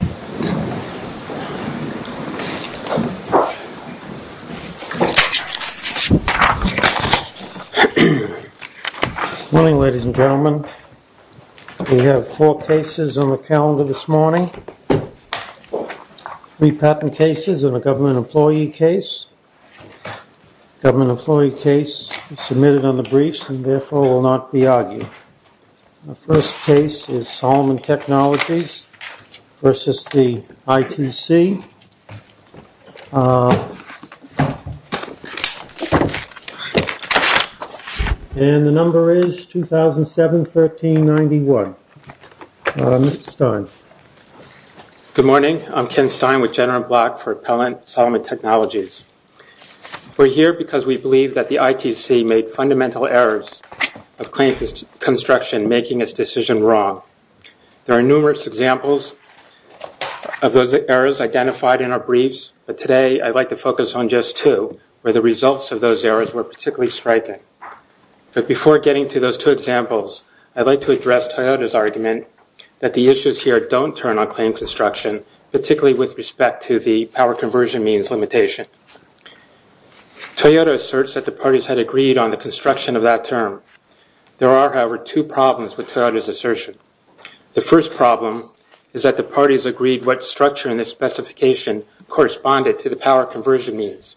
Good morning ladies and gentlemen. We have four cases on the calendar this morning. Three patent cases and a government employee case. Government employee case submitted on the calendar. This is the ITC. And the number is 2007-13-91. Mr. Stein. Good morning. I'm Ken Stein with General Block for Appellant Settlement Technologies. We're here because we believe that the ITC made fundamental errors of claim construction making this decision wrong. There are numerous examples of those errors identified in our briefs, but today I'd like to focus on just two where the results of those errors were particularly striking. But before getting to those two examples, I'd like to address Toyota's argument that the issues here don't turn on claim construction, particularly with respect to the power conversion means limitation. Toyota asserts that the parties had agreed on the construction of that term. There are, however, two problems with Toyota's assertion. The first problem is that the parties agreed what structure in the specification corresponded to the power conversion means.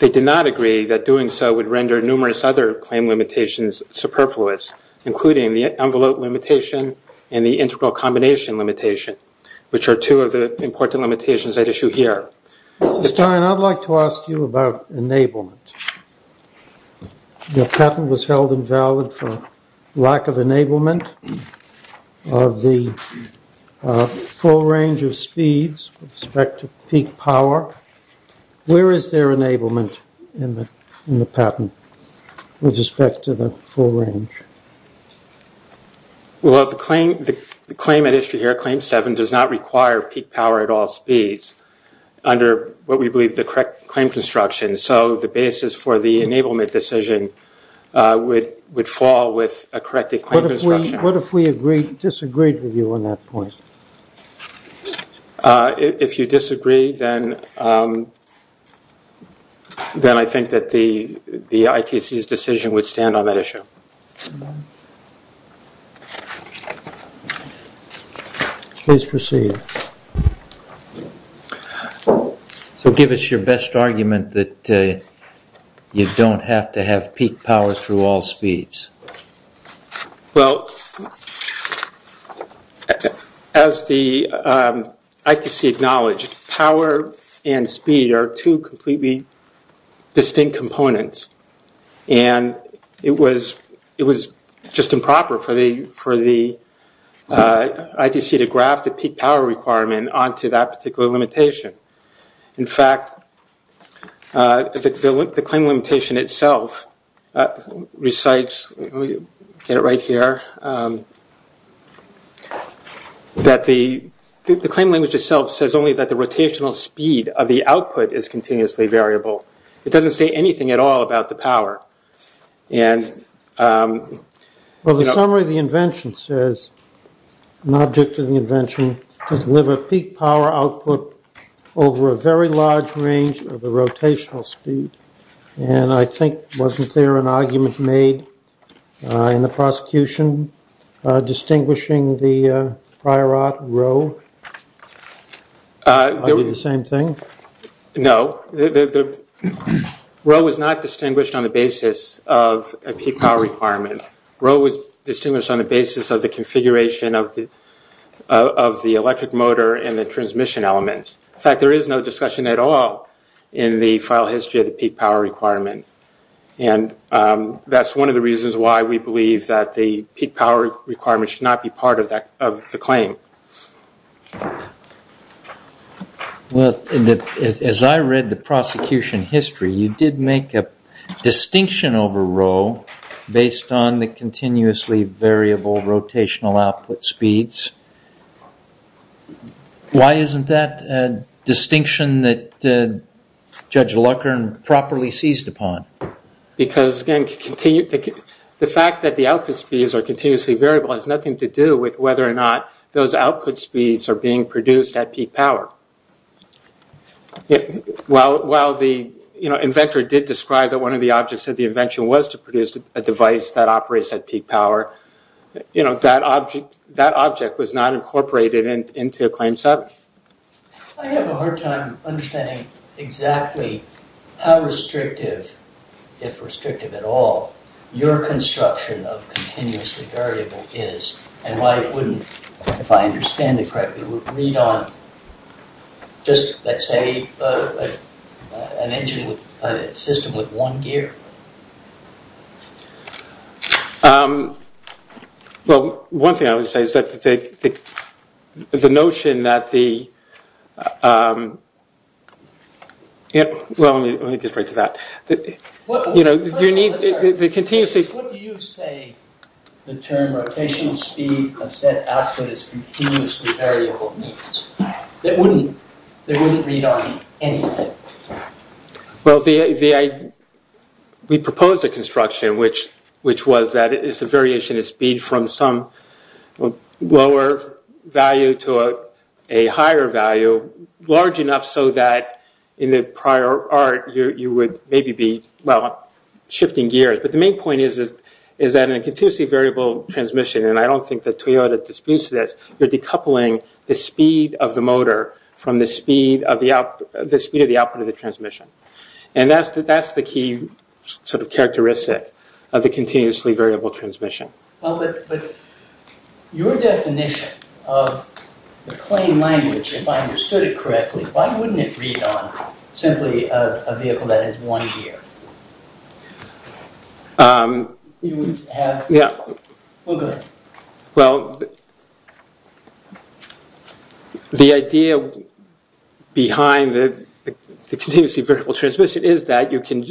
They did not agree that doing so would render numerous other claim limitations superfluous, including the envelope limitation and the integral combination limitation, which are two of the important limitations at issue here. Stein, I'd like to ask you about enablement. The patent was held invalid for lack of enablement of the full range of speeds with respect to peak power. Where is there enablement in the patent with respect to the full range? Well, the claim at issue here, claim seven, does not require peak power at all speeds under what we believe the correct claim construction. So the basis for the enablement decision would fall with a corrected claim construction. What if we disagreed with you on that point? If you disagree, then I think that the ITC's decision would stand on that issue. Please proceed. So give us your best argument that you don't have to have peak power through all speeds. Well, as the ITC acknowledged, power and speed are two completely distinct components. And it was just improper for the ITC to graft the peak power requirement onto that particular limitation. In fact, the claim limitation itself recites, let me get it right here, that the claim language itself says only that the rotational speed of the output is continuously variable. It doesn't say anything at all about the power. Well, the summary of the invention says, an object of the invention, to deliver peak power output over a very large range of the rotational speed. And I think, wasn't there an argument made in the prosecution distinguishing the prior art Rho? Would it be the same thing? No. Rho was not distinguished on the basis of a peak power requirement. Rho was distinguished on the basis of the configuration of the electric motor and the transmission elements. In fact, there is no discussion at all in the file history of the peak power requirement. And that's one of the reasons why we believe that the peak power requirement should not be part of the claim. Well, as I read the prosecution history, you did make a distinction over Rho based on the continuously variable rotational output speeds. Why isn't that a distinction that Judge Lucker properly seized upon? Because, again, the fact that the output speeds are continuously variable has nothing to do with whether or not those output speeds are being produced at peak power. While the inventor did describe that one of the objects of the invention was to produce a device that operates at peak power, that object was not incorporated into Claim 7. I have a hard time understanding exactly how restrictive, if restrictive at all, your construction of continuously variable is and why it wouldn't, if I understand it correctly, would read on just, let's say, an engine with a system with one gear. Well, one thing I would say is that the notion that the... Well, let me get right to that. You know, you need the continuously... What do you say the term rotational speed of set output is continuously variable means? It wouldn't read on anything. Well, we proposed a construction which was that it's a variation of speed from some lower value to a higher value, large enough so that in the prior art you would maybe be, well, shifting gears. But the main point is that in a continuously variable transmission, and I don't think that Toyota disputes this, you're decoupling the speed of the motor from the speed of the output of the transmission. And that's the key sort of characteristic of the continuously variable transmission. Well, but your definition of the plain language, if I understood it correctly, why wouldn't it read on simply a vehicle that has one gear? You would have... Yeah. Well, go ahead. Well, the idea behind the continuously variable transmission is that you can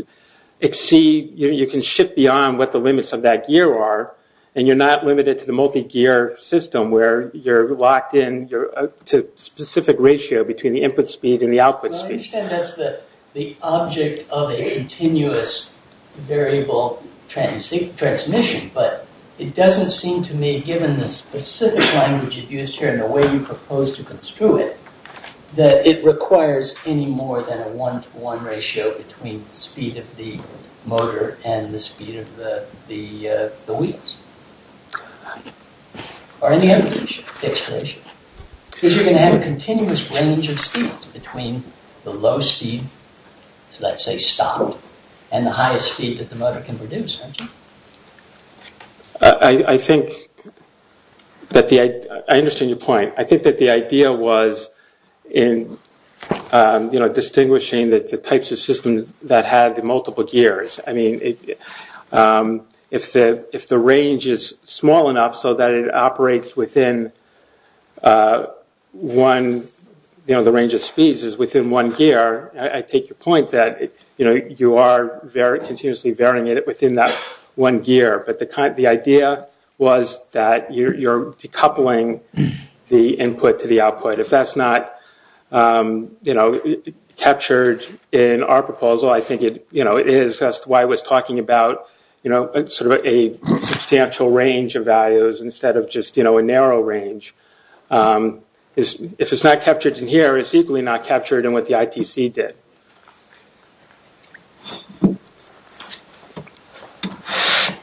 exceed, you can shift beyond what the limits of that gear are, and you're not limited to the multi-gear system where you're locked in to a specific ratio between the input speed and the output speed. Well, I understand that's the object of a continuous variable transmission, but it doesn't seem to me, given the specific language you've used here and the way you propose to construe it, that it requires any more than a one-to-one ratio between the speed of the motor and the speed of the wheels. Or any other ratio, fixed ratio. Because you're going to have a continuous range of speeds between the low speed, so let's say stopped, and the highest speed that the motor can produce. I think that the... I understand your point. I think that the idea was in distinguishing the types of systems that had the multiple gears. I mean, if the range is small enough so that it operates within one, you know, the range of speeds is within one gear, I take your point that you are continuously varying it within that one gear. But the idea was that you're decoupling the input to the output. If that's not captured in our proposal, I think that's why I was talking about a substantial range of values instead of just a narrow range. If it's not captured in here, it's equally not captured in what the ITC did. Okay.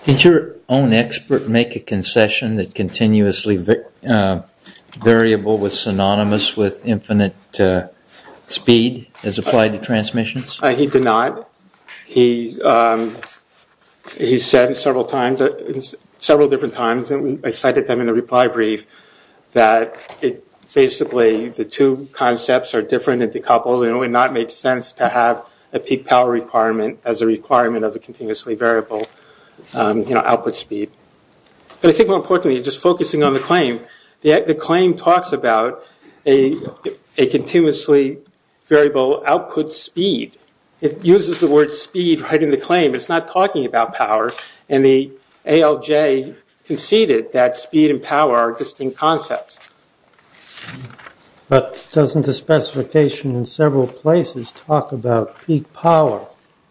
Did your own expert make a concession that continuously variable was synonymous with infinite speed as applied to transmissions? He did not. He said several times, several different times, and I cited them in the reply brief, that basically the two concepts are different and decoupled and it would not make sense to have a peak power requirement as a requirement of the continuously variable output speed. But I think more importantly, just focusing on the claim, the claim talks about a continuously variable output speed. It uses the word speed right in the claim. It's not talking about power, and the ALJ conceded that speed and power are distinct concepts. But doesn't the specification in several places talk about peak power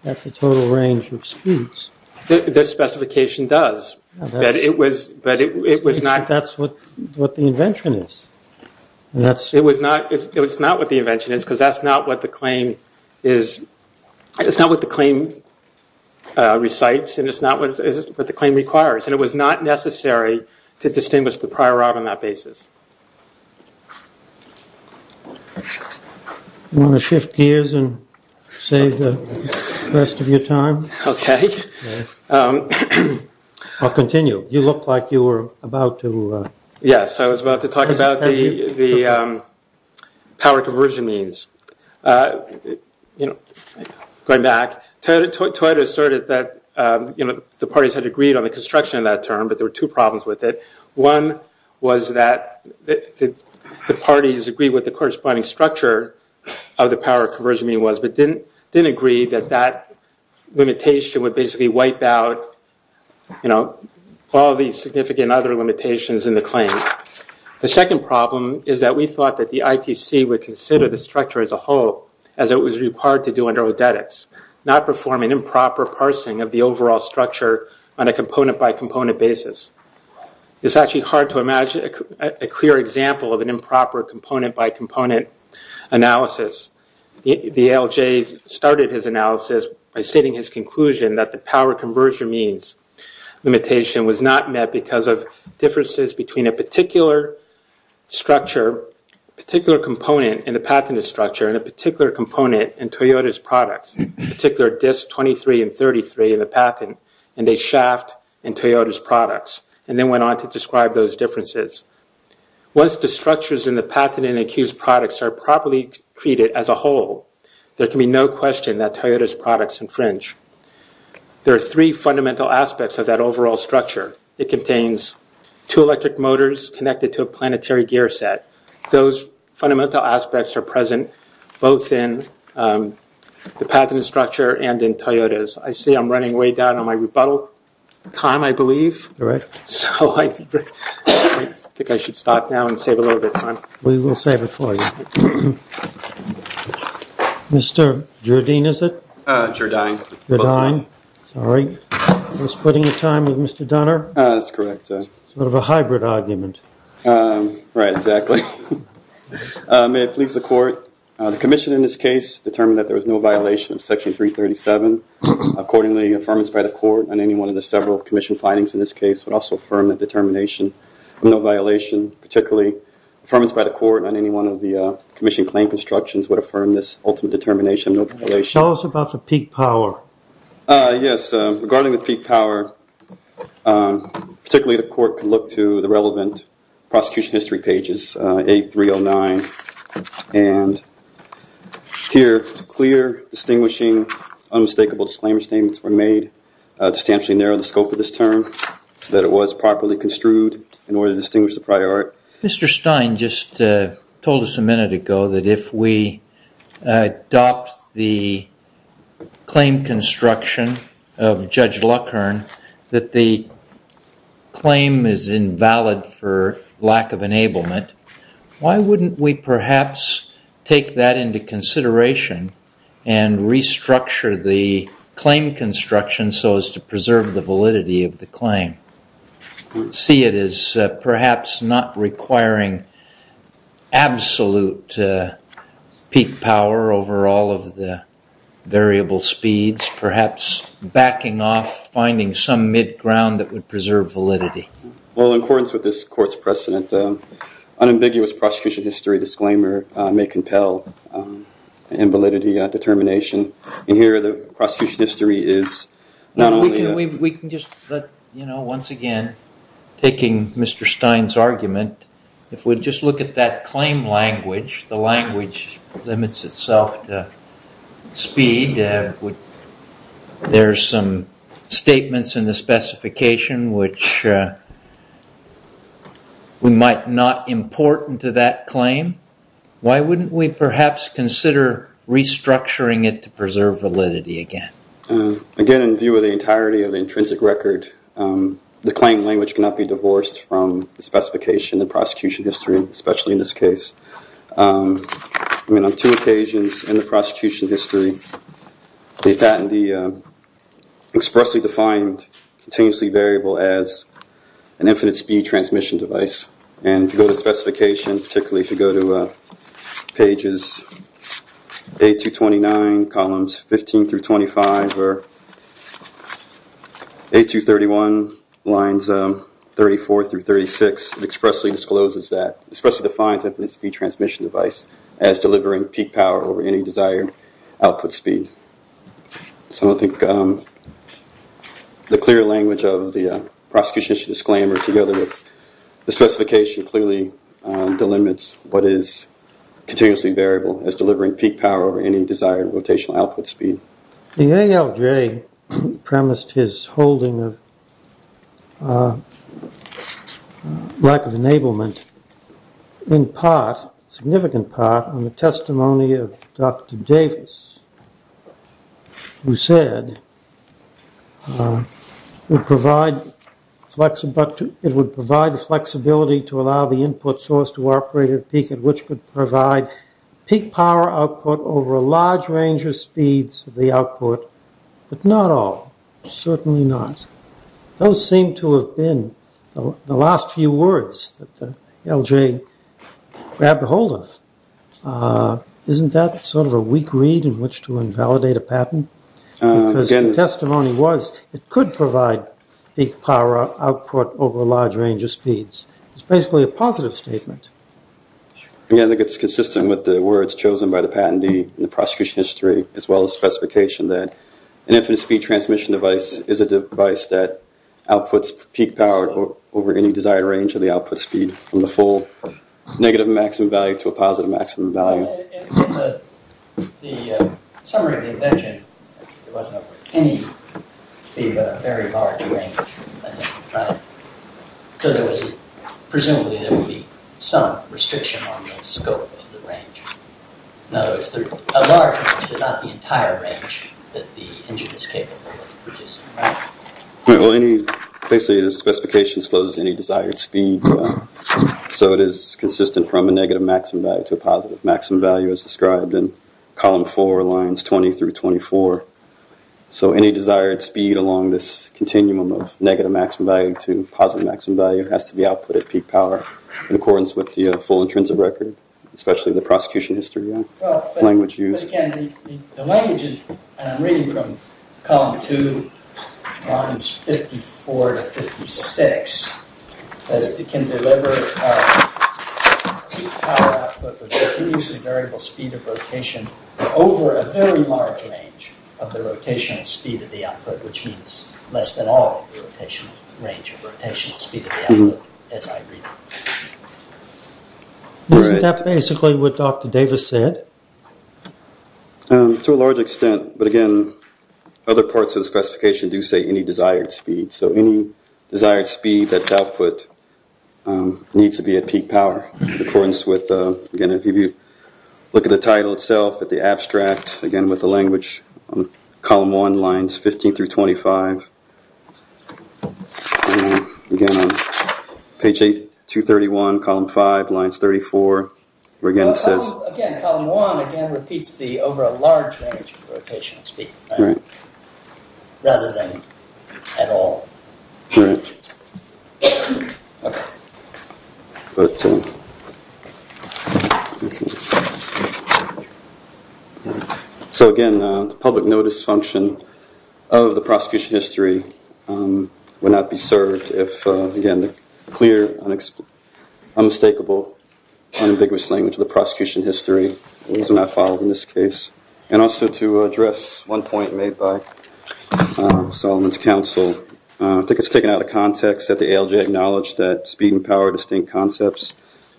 at the total range of speeds? The specification does, but it was not... But that's what the invention is. It's not what the invention is because that's not what the claim recites and it's not what the claim requires, and it was not necessary to distinguish the prior art on that basis. Do you want to shift gears and save the rest of your time? Okay. I'll continue. You looked like you were about to... Yes, I was about to talk about the power conversion means. Going back, Toyota asserted that the parties had agreed on the construction of that term, but there were two problems with it. One was that the parties agreed with the corresponding structure of the power conversion mean was, but didn't agree that that limitation would basically wipe out all the significant other limitations in the claim. The second problem is that we thought that the ITC would consider the structure as a whole as it was required to do under Odetics, not perform an improper parsing of the overall structure on a component-by-component basis. It's actually hard to imagine a clear example of an improper component-by-component analysis. The ALJ started his analysis by stating his conclusion that the power conversion means limitation was not met because of differences between a particular structure, a particular component in the patented structure and a particular component in Toyota's products, a particular disc 23 and 33 in the patent, and a shaft in Toyota's products, and then went on to describe those differences. Once the structures in the patent and accused products are properly treated as a whole, there can be no question that Toyota's products infringe. There are three fundamental aspects of that overall structure. It contains two electric motors connected to a planetary gear set. Those fundamental aspects are present both in the patented structure and in Toyota's. I see I'm running way down on my rebuttal time, I believe. So I think I should stop now and save a little bit of time. We will save it for you. Mr. Jardine, is it? Jardine. Jardine, sorry. I was putting the time with Mr. Donner. That's correct. Sort of a hybrid argument. Right, exactly. May it please the court, the commission in this case determined that there was no violation of Section 337. Accordingly, the affirmance by the court on any one of the several commission findings in this case would also affirm the determination of no violation, particularly affirmance by the court on any one of the commission claim constructions would affirm this ultimate determination of no violation. Tell us about the peak power. Yes, regarding the peak power, particularly the court can look to the relevant prosecution history pages, A309, and here clear, distinguishing, unmistakable disclaimer statements were made to substantially narrow the scope of this term so that it was properly construed in order to distinguish the prior art. Mr. Stein just told us a minute ago that if we adopt the claim construction of Judge Luckern, that the claim is invalid for lack of enablement, why wouldn't we perhaps take that into consideration and restructure the claim construction so as to preserve the validity of the claim? See it as perhaps not requiring absolute peak power over all of the variable speeds, perhaps backing off, finding some mid-ground that would preserve validity. Well, in accordance with this court's precedent, unambiguous prosecution history disclaimer may compel invalidity determination, and here the prosecution history is not only a... We can just, once again, taking Mr. Stein's argument, if we just look at that claim language, the language limits itself to speed, there's some statements in the specification which we might not import into that claim. Why wouldn't we perhaps consider restructuring it to preserve validity again? Again, in view of the entirety of the intrinsic record, the claim language cannot be divorced from the specification, the prosecution history, especially in this case. I mean, on two occasions in the prosecution history, the patent expressly defined continuously variable as an infinite speed transmission device, and if you go to the specification, particularly if you go to pages A-229, columns 15 through 25, or A-231, lines 34 through 36, it expressly discloses that, expressly defines infinite speed transmission device as delivering peak power over any desired output speed. So I think the clear language of the prosecution history disclaimer together with the specification clearly delimits what is continuously variable as delivering peak power over any desired rotational output speed. The ALJ premised his holding of lack of enablement in part, a significant part, on the testimony of Dr. Davis, who said it would provide the flexibility to allow the input source to operate at a peak at which could provide peak power output over a large range of speeds of the output, but not all, certainly not. Those seem to have been the last few words that the ALJ grabbed hold of. Isn't that sort of a weak read in which to invalidate a patent? Because the testimony was it could provide peak power output over a large range of speeds. It's basically a positive statement. I think it's consistent with the words chosen by the patentee in the prosecution history as well as the specification that an infinite speed transmission device is a device that outputs peak power over any desired range of the output speed from the full negative maximum value to a positive maximum value. In the summary of the invention, it wasn't over any speed but a very large range. Presumably, there would be some restriction on the scope of the range. No, it's a large range but not the entire range that the engine is capable of producing. Basically, the specification exposes any desired speed, so it is consistent from a negative maximum value to a positive maximum value as described in column four, lines 20 through 24. So any desired speed along this continuum of negative maximum value to positive maximum value has to be output at peak power in accordance with the full intrinsic record, especially the prosecution history language used. But again, the language in reading from column two, lines 54 to 56, says it can deliver peak power output with continuously variable speed of rotation over a very large range of the rotational speed of the output, which means less than all the range of rotational speed of the output, as I read it. Isn't that basically what Dr. Davis said? To a large extent, but again, other parts of the specification do say any desired speed, so any desired speed that's output needs to be at peak power in accordance with, again, if you look at the title itself, at the abstract, again, with the language, column one, lines 15 through 25. Again, on page 231, column five, lines 34, where again it says... Again, column one repeats the over a large range of rotational speed, rather than at all. All right. So again, the public notice function of the prosecution history would not be served if, again, the clear, unmistakable, unambiguous language of the prosecution history was not followed in this case. And also to address one point made by Solomon's counsel, I think it's taken out of context that the ALJ acknowledged that speed and power are distinct concepts.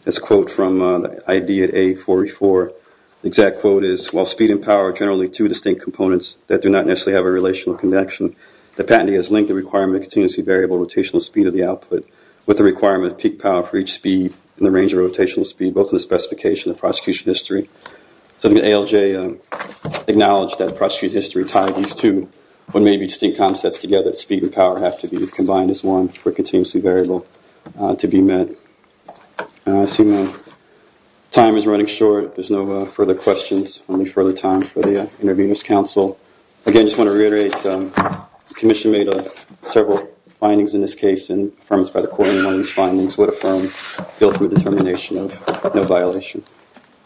It's a quote from ID at A44. The exact quote is, while speed and power are generally two distinct components that do not necessarily have a relational connection, the patentee has linked the requirement of continuously variable rotational speed of the output with the requirement of peak power for each speed in the range of rotational speed, both in the specification and prosecution history. So the ALJ acknowledged that prosecution history tied these two when maybe distinct concepts together, speed and power, have to be combined as one for continuously variable to be met. I see my time is running short. There's no further questions. Only further time for the interviewer's counsel. Again, I just want to reiterate, the commission made several findings in this case and affirmed by the court in one of these findings, would affirm guilt with determination of no violation.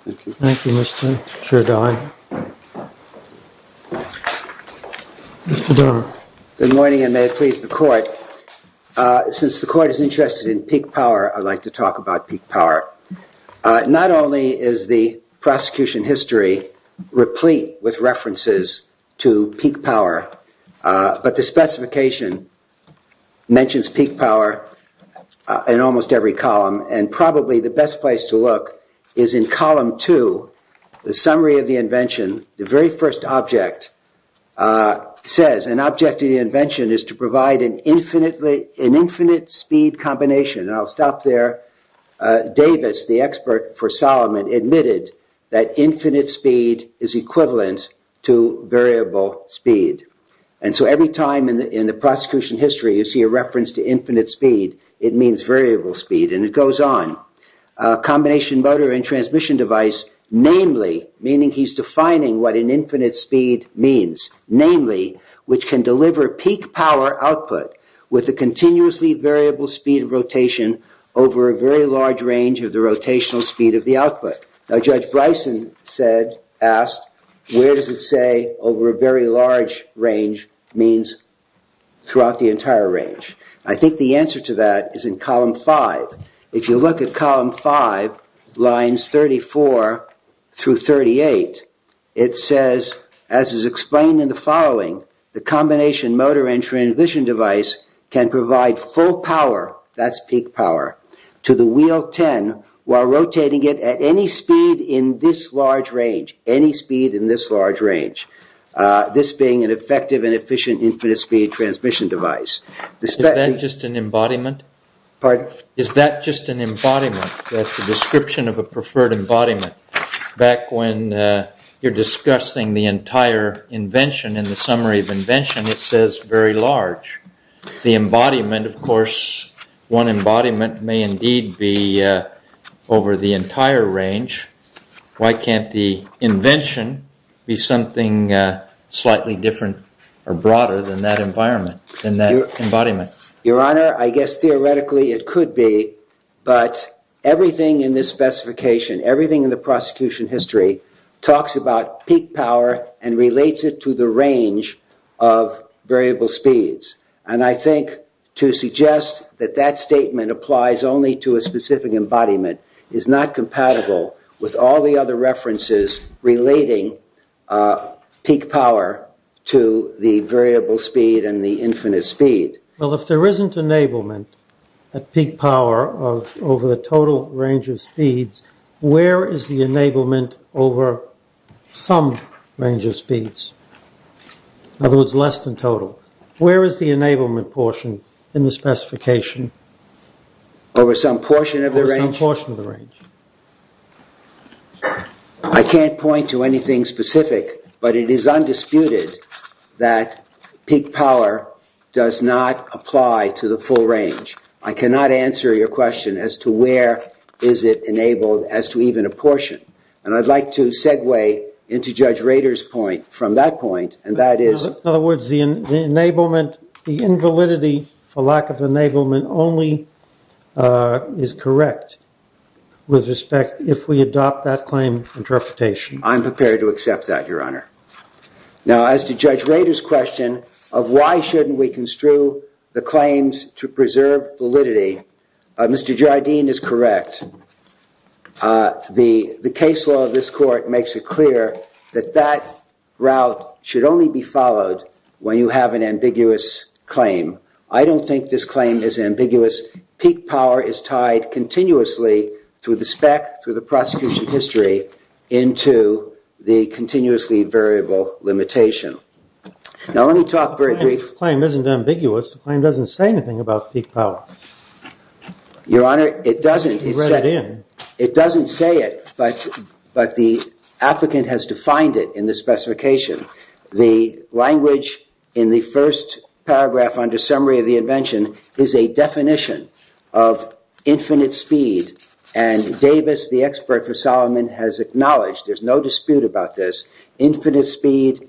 Thank you. Thank you, Mr. Chair Dodd. Mr. Dodd. Good morning and may it please the court. Since the court is interested in peak power, I'd like to talk about peak power. Not only is the prosecution history replete with references to peak power, but the specification mentions peak power in almost every column and probably the best place to look is in column two, the summary of the invention. The very first object says an object of the invention is to provide an infinite speed combination. And I'll stop there. Davis, the expert for Solomon, admitted that infinite speed is equivalent to variable speed. And so every time in the prosecution history you see a reference to infinite speed, it means variable speed and it goes on. A combination motor and transmission device, namely, meaning he's defining what an infinite speed means, namely, which can deliver peak power output with a continuously variable speed of rotation over a very large range of the rotational speed of the output. Now Judge Bryson asked, where does it say over a very large range means throughout the entire range. I think the answer to that is in column five. If you look at column five, lines 34 through 38, it says, as is explained in the following, the combination motor and transmission device can provide full power, that's peak power, to the wheel 10 while rotating it at any speed in this large range. Any speed in this large range. This being an effective and efficient infinite speed transmission device. Is that just an embodiment? Pardon? Is that just an embodiment? That's a description of a preferred embodiment. Back when you're discussing the entire invention in the summary of invention, it says very large. The embodiment, of course, one embodiment may indeed be over the entire range. Why can't the invention be something slightly different or broader than that embodiment? Your Honor, I guess theoretically it could be, but everything in this specification, everything in the prosecution history, talks about peak power and relates it to the range of variable speeds. And I think to suggest that that statement applies only to a specific embodiment is not compatible with all the other references relating peak power to the variable speed and the infinite speed. Well, if there isn't enablement at peak power over the total range of speeds, where is the enablement over some range of speeds? In other words, less than total. Where is the enablement portion in the specification? Over some portion of the range. I can't point to anything specific, but it is undisputed that peak power does not apply to the full range. I cannot answer your question as to where is it enabled as to even a portion. And I'd like to segue into Judge Rader's point from that point, and that is... In other words, the enablement, the invalidity for lack of enablement only is correct with respect, if we adopt that claim interpretation. I'm prepared to accept that, Your Honor. Now, as to Judge Rader's question of why shouldn't we construe the claims to preserve validity, Mr. Jardine is correct. The case law of this court makes it clear that that route should only be followed I don't think this claim is ambiguous. Peak power is tied continuously through the spec, through the prosecution history, into the continuously variable limitation. Now, let me talk very briefly... The claim isn't ambiguous. The claim doesn't say anything about peak power. Your Honor, it doesn't. You read it in. It doesn't say it, but the applicant has defined it in the specification. The language in the first paragraph under summary of the invention is a definition of infinite speed, and Davis, the expert for Solomon, has acknowledged, there's no dispute about this, infinite speed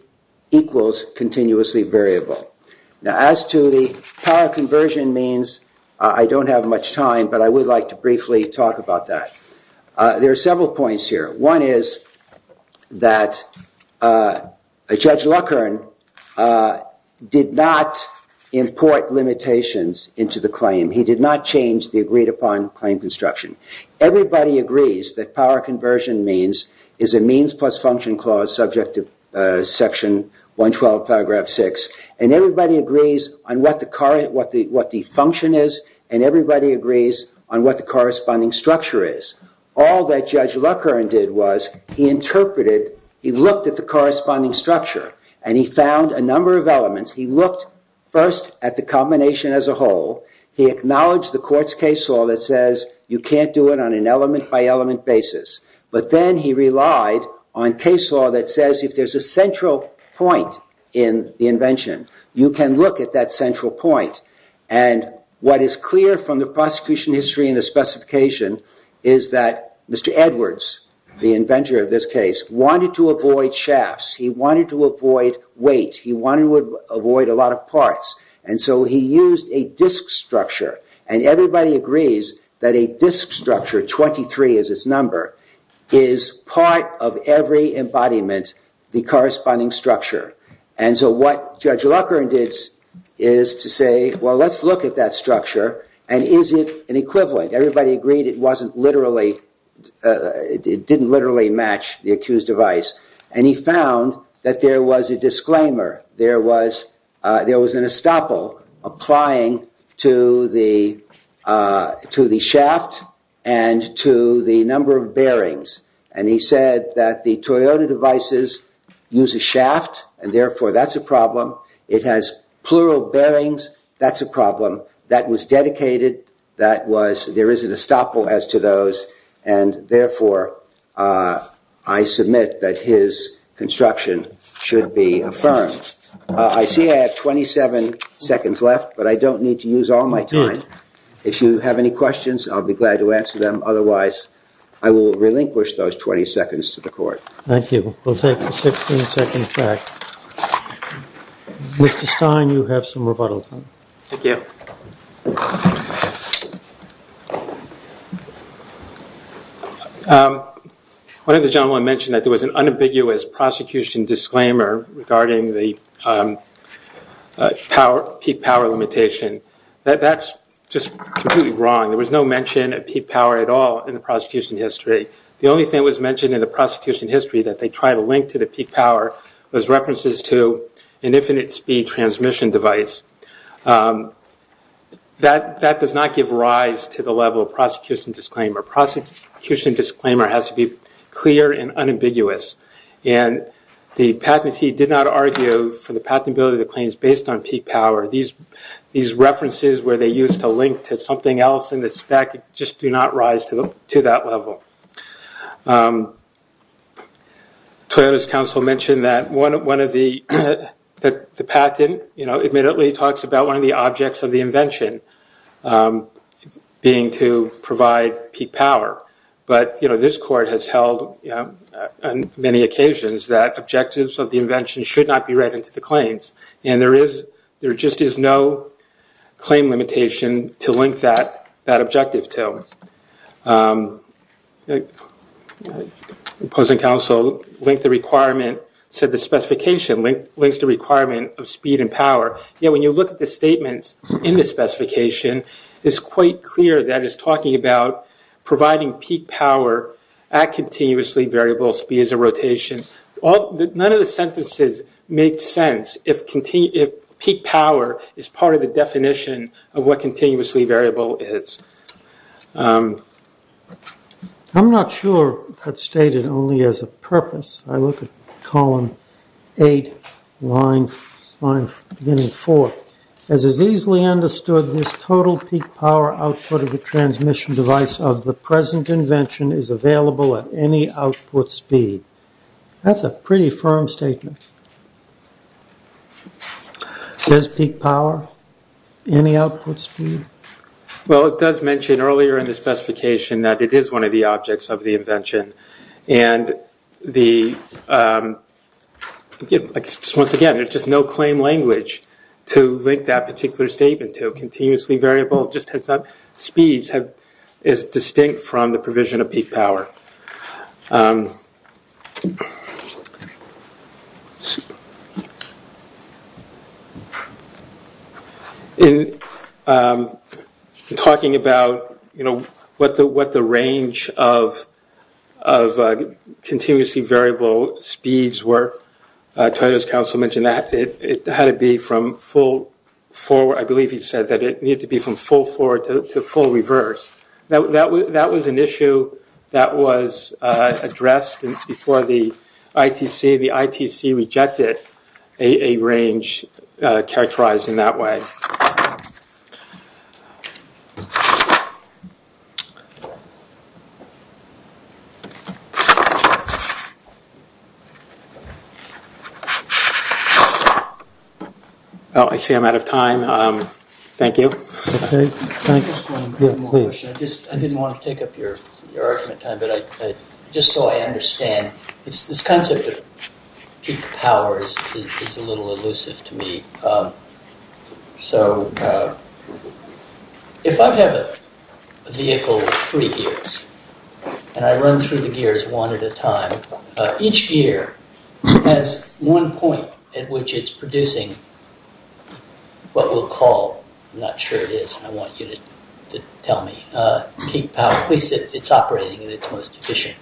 equals continuously variable. Now, as to the power conversion means, I don't have much time, but I would like to briefly talk about that. There are several points here. One is that Judge Luckern did not import limitations into the claim. He did not change the agreed-upon claim construction. Everybody agrees that power conversion means is a means plus function clause subject to section 112, paragraph 6, and everybody agrees on what the function is, and everybody agrees on what the corresponding structure is. All that Judge Luckern did was he interpreted, he looked at the corresponding structure, and he found a number of elements. He looked first at the combination as a whole. He acknowledged the court's case law that says you can't do it on an element-by-element basis, but then he relied on case law that says if there's a central point in the invention, you can look at that central point, and what is clear from the prosecution history and the specification is that Mr. Edwards, the inventor of this case, wanted to avoid shafts. He wanted to avoid weight. He wanted to avoid a lot of parts, and so he used a disk structure, and everybody agrees that a disk structure, 23 is its number, is part of every embodiment, the corresponding structure, and so what Judge Luckern did is to say, well, let's look at that structure, and is it an equivalent? Everybody agreed it didn't literally match the accused device, and he found that there was a disclaimer. There was an estoppel applying to the shaft and to the number of bearings, and he said that the Toyota devices use a shaft, and therefore that's a problem. It has plural bearings. That's a problem. That was dedicated. There is an estoppel as to those, and therefore I submit that his construction should be affirmed. I see I have 27 seconds left, but I don't need to use all my time. If you have any questions, I'll be glad to answer them. Otherwise, I will relinquish those 20 seconds to the court. Thank you. We'll take a 16-second break. Mr. Stein, you have some rebuttal time. Thank you. One of the gentlemen mentioned that there was an unambiguous prosecution disclaimer regarding the peak power limitation. That's just completely wrong. There was no mention of peak power at all in the prosecution history. The only thing that was mentioned in the prosecution history that they tried to link to the peak power was references to an infinite speed transmission device. That does not give rise to the level of prosecution disclaimer. Prosecution disclaimer has to be clear and unambiguous, and the patentee did not argue for the patentability of the claims based on peak power. These references where they used to link to something else in the spec just do not rise to that level. Toyota's counsel mentioned that the patent admittedly talks about one of the objects of the invention being to provide peak power, but this court has held on many occasions that objectives of the invention should not be read into the claims, and there just is no claim limitation to link that objective to. The opposing counsel linked the requirement, said the specification links the requirement of speed and power, yet when you look at the statements in the specification, it's quite clear that it's talking about providing peak power at continuously variable speeds of rotation. None of the sentences make sense if peak power is part of the definition of what continuously variable is. I'm not sure that's stated only as a purpose. I look at column 8, line beginning 4. As is easily understood, this total peak power output of the transmission device of the present invention is available at any output speed. That's a pretty firm statement. Does peak power? Any output speed? Well, it does mention earlier in the specification that it is one of the objects of the invention, and once again, there's just no claim language to link that particular statement to continuously variable speeds that is distinct from the provision of peak power. Super. In talking about, you know, what the range of continuously variable speeds were, Toyota's counsel mentioned that it had to be from full forward. I believe he said that it needed to be from full forward to full reverse. That was an issue that was addressed before the ITC. The ITC rejected a range characterized in that way. Oh, I see I'm out of time. Thank you. I didn't want to take up your argument time, but just so I understand, this concept of peak power is a little elusive to me. So, if I have a vehicle with three gears, and I run through the gears one at a time, each gear has one point at which it's producing what we'll call, I'm not sure it is, I want you to tell me, peak power, at least it's operating at its most efficient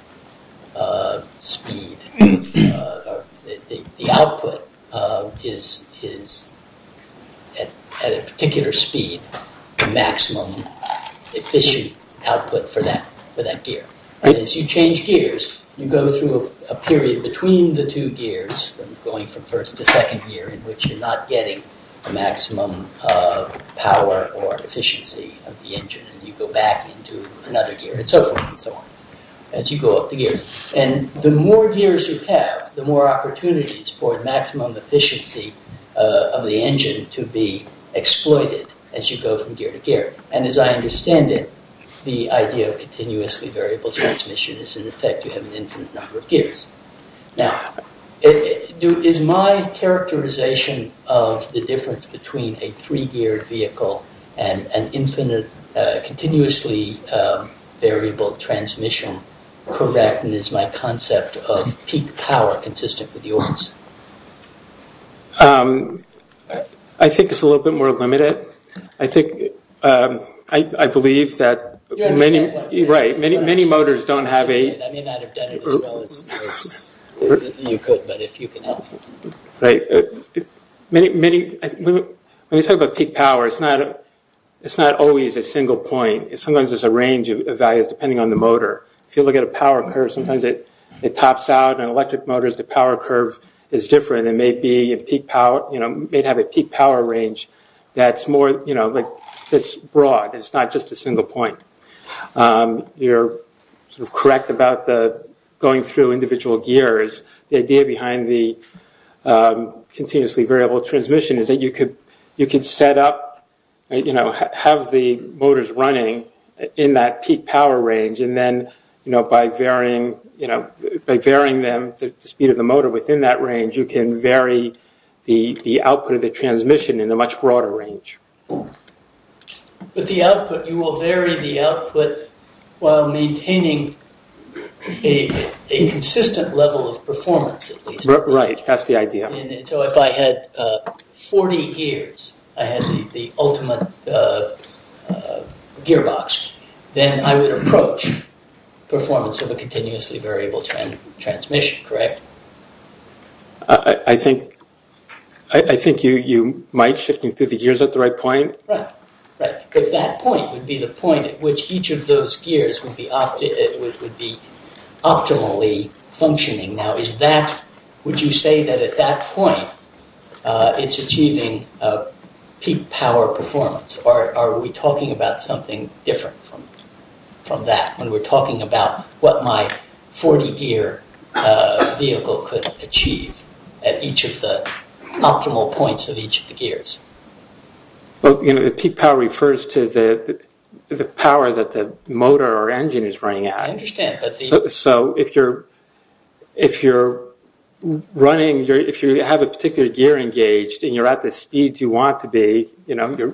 speed. The output is, at a particular speed, the maximum efficient output for that gear. As you change gears, you go through a period between the two gears, going from first to second gear, in which you're not getting the maximum power or efficiency of the engine. You go back into another gear, and so forth and so on, as you go up the gears. And the more gears you have, the more opportunities for maximum efficiency of the engine to be exploited as you go from gear to gear. And as I understand it, the idea of continuously variable transmission is in effect, you have an infinite number of gears. Now, is my characterization of the difference between a three-geared vehicle and an infinite, continuously variable transmission correct? And is my concept of peak power consistent with yours? I think it's a little bit more limited. I think, I believe that many motors don't have a... I may not have done it as well as you could, but if you can help me. When you talk about peak power, it's not always a single point. Sometimes there's a range of values depending on the motor. If you look at a power curve, sometimes it tops out. In electric motors, the power curve is different. It may have a peak power range that's broad. It's not just a single point. You're correct about going through individual gears. The idea behind the continuously variable transmission is that you could set up, you know, have the motors running in that peak power range. And then, you know, by varying them, the speed of the motor within that range, you can vary the output of the transmission in a much broader range. With the output, you will vary the output while maintaining a consistent level of performance, at least. Right, that's the idea. So if I had 40 gears, I had the ultimate gearbox, then I would approach performance of a continuously variable transmission, correct? I think you might, shifting through the gears at the right point. Right, right. But that point would be the point at which each of those gears would be optimally functioning. Now, would you say that at that point, it's achieving peak power performance? Or are we talking about something different from that, when we're talking about what my 40-gear vehicle could achieve at each of the optimal points of each of the gears? Well, you know, the peak power refers to the power that the motor or engine is running at. I understand. So if you're running, if you have a particular gear engaged and you're at the speeds you want to be, you know,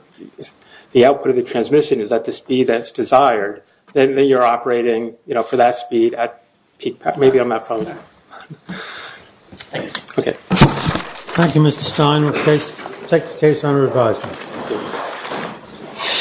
the output of the transmission is at the speed that's desired, then you're operating, you know, for that speed at peak power. Maybe I'm not following that. Thank you. Okay. Thank you, Mr. Stein. We'll take the case under advisement.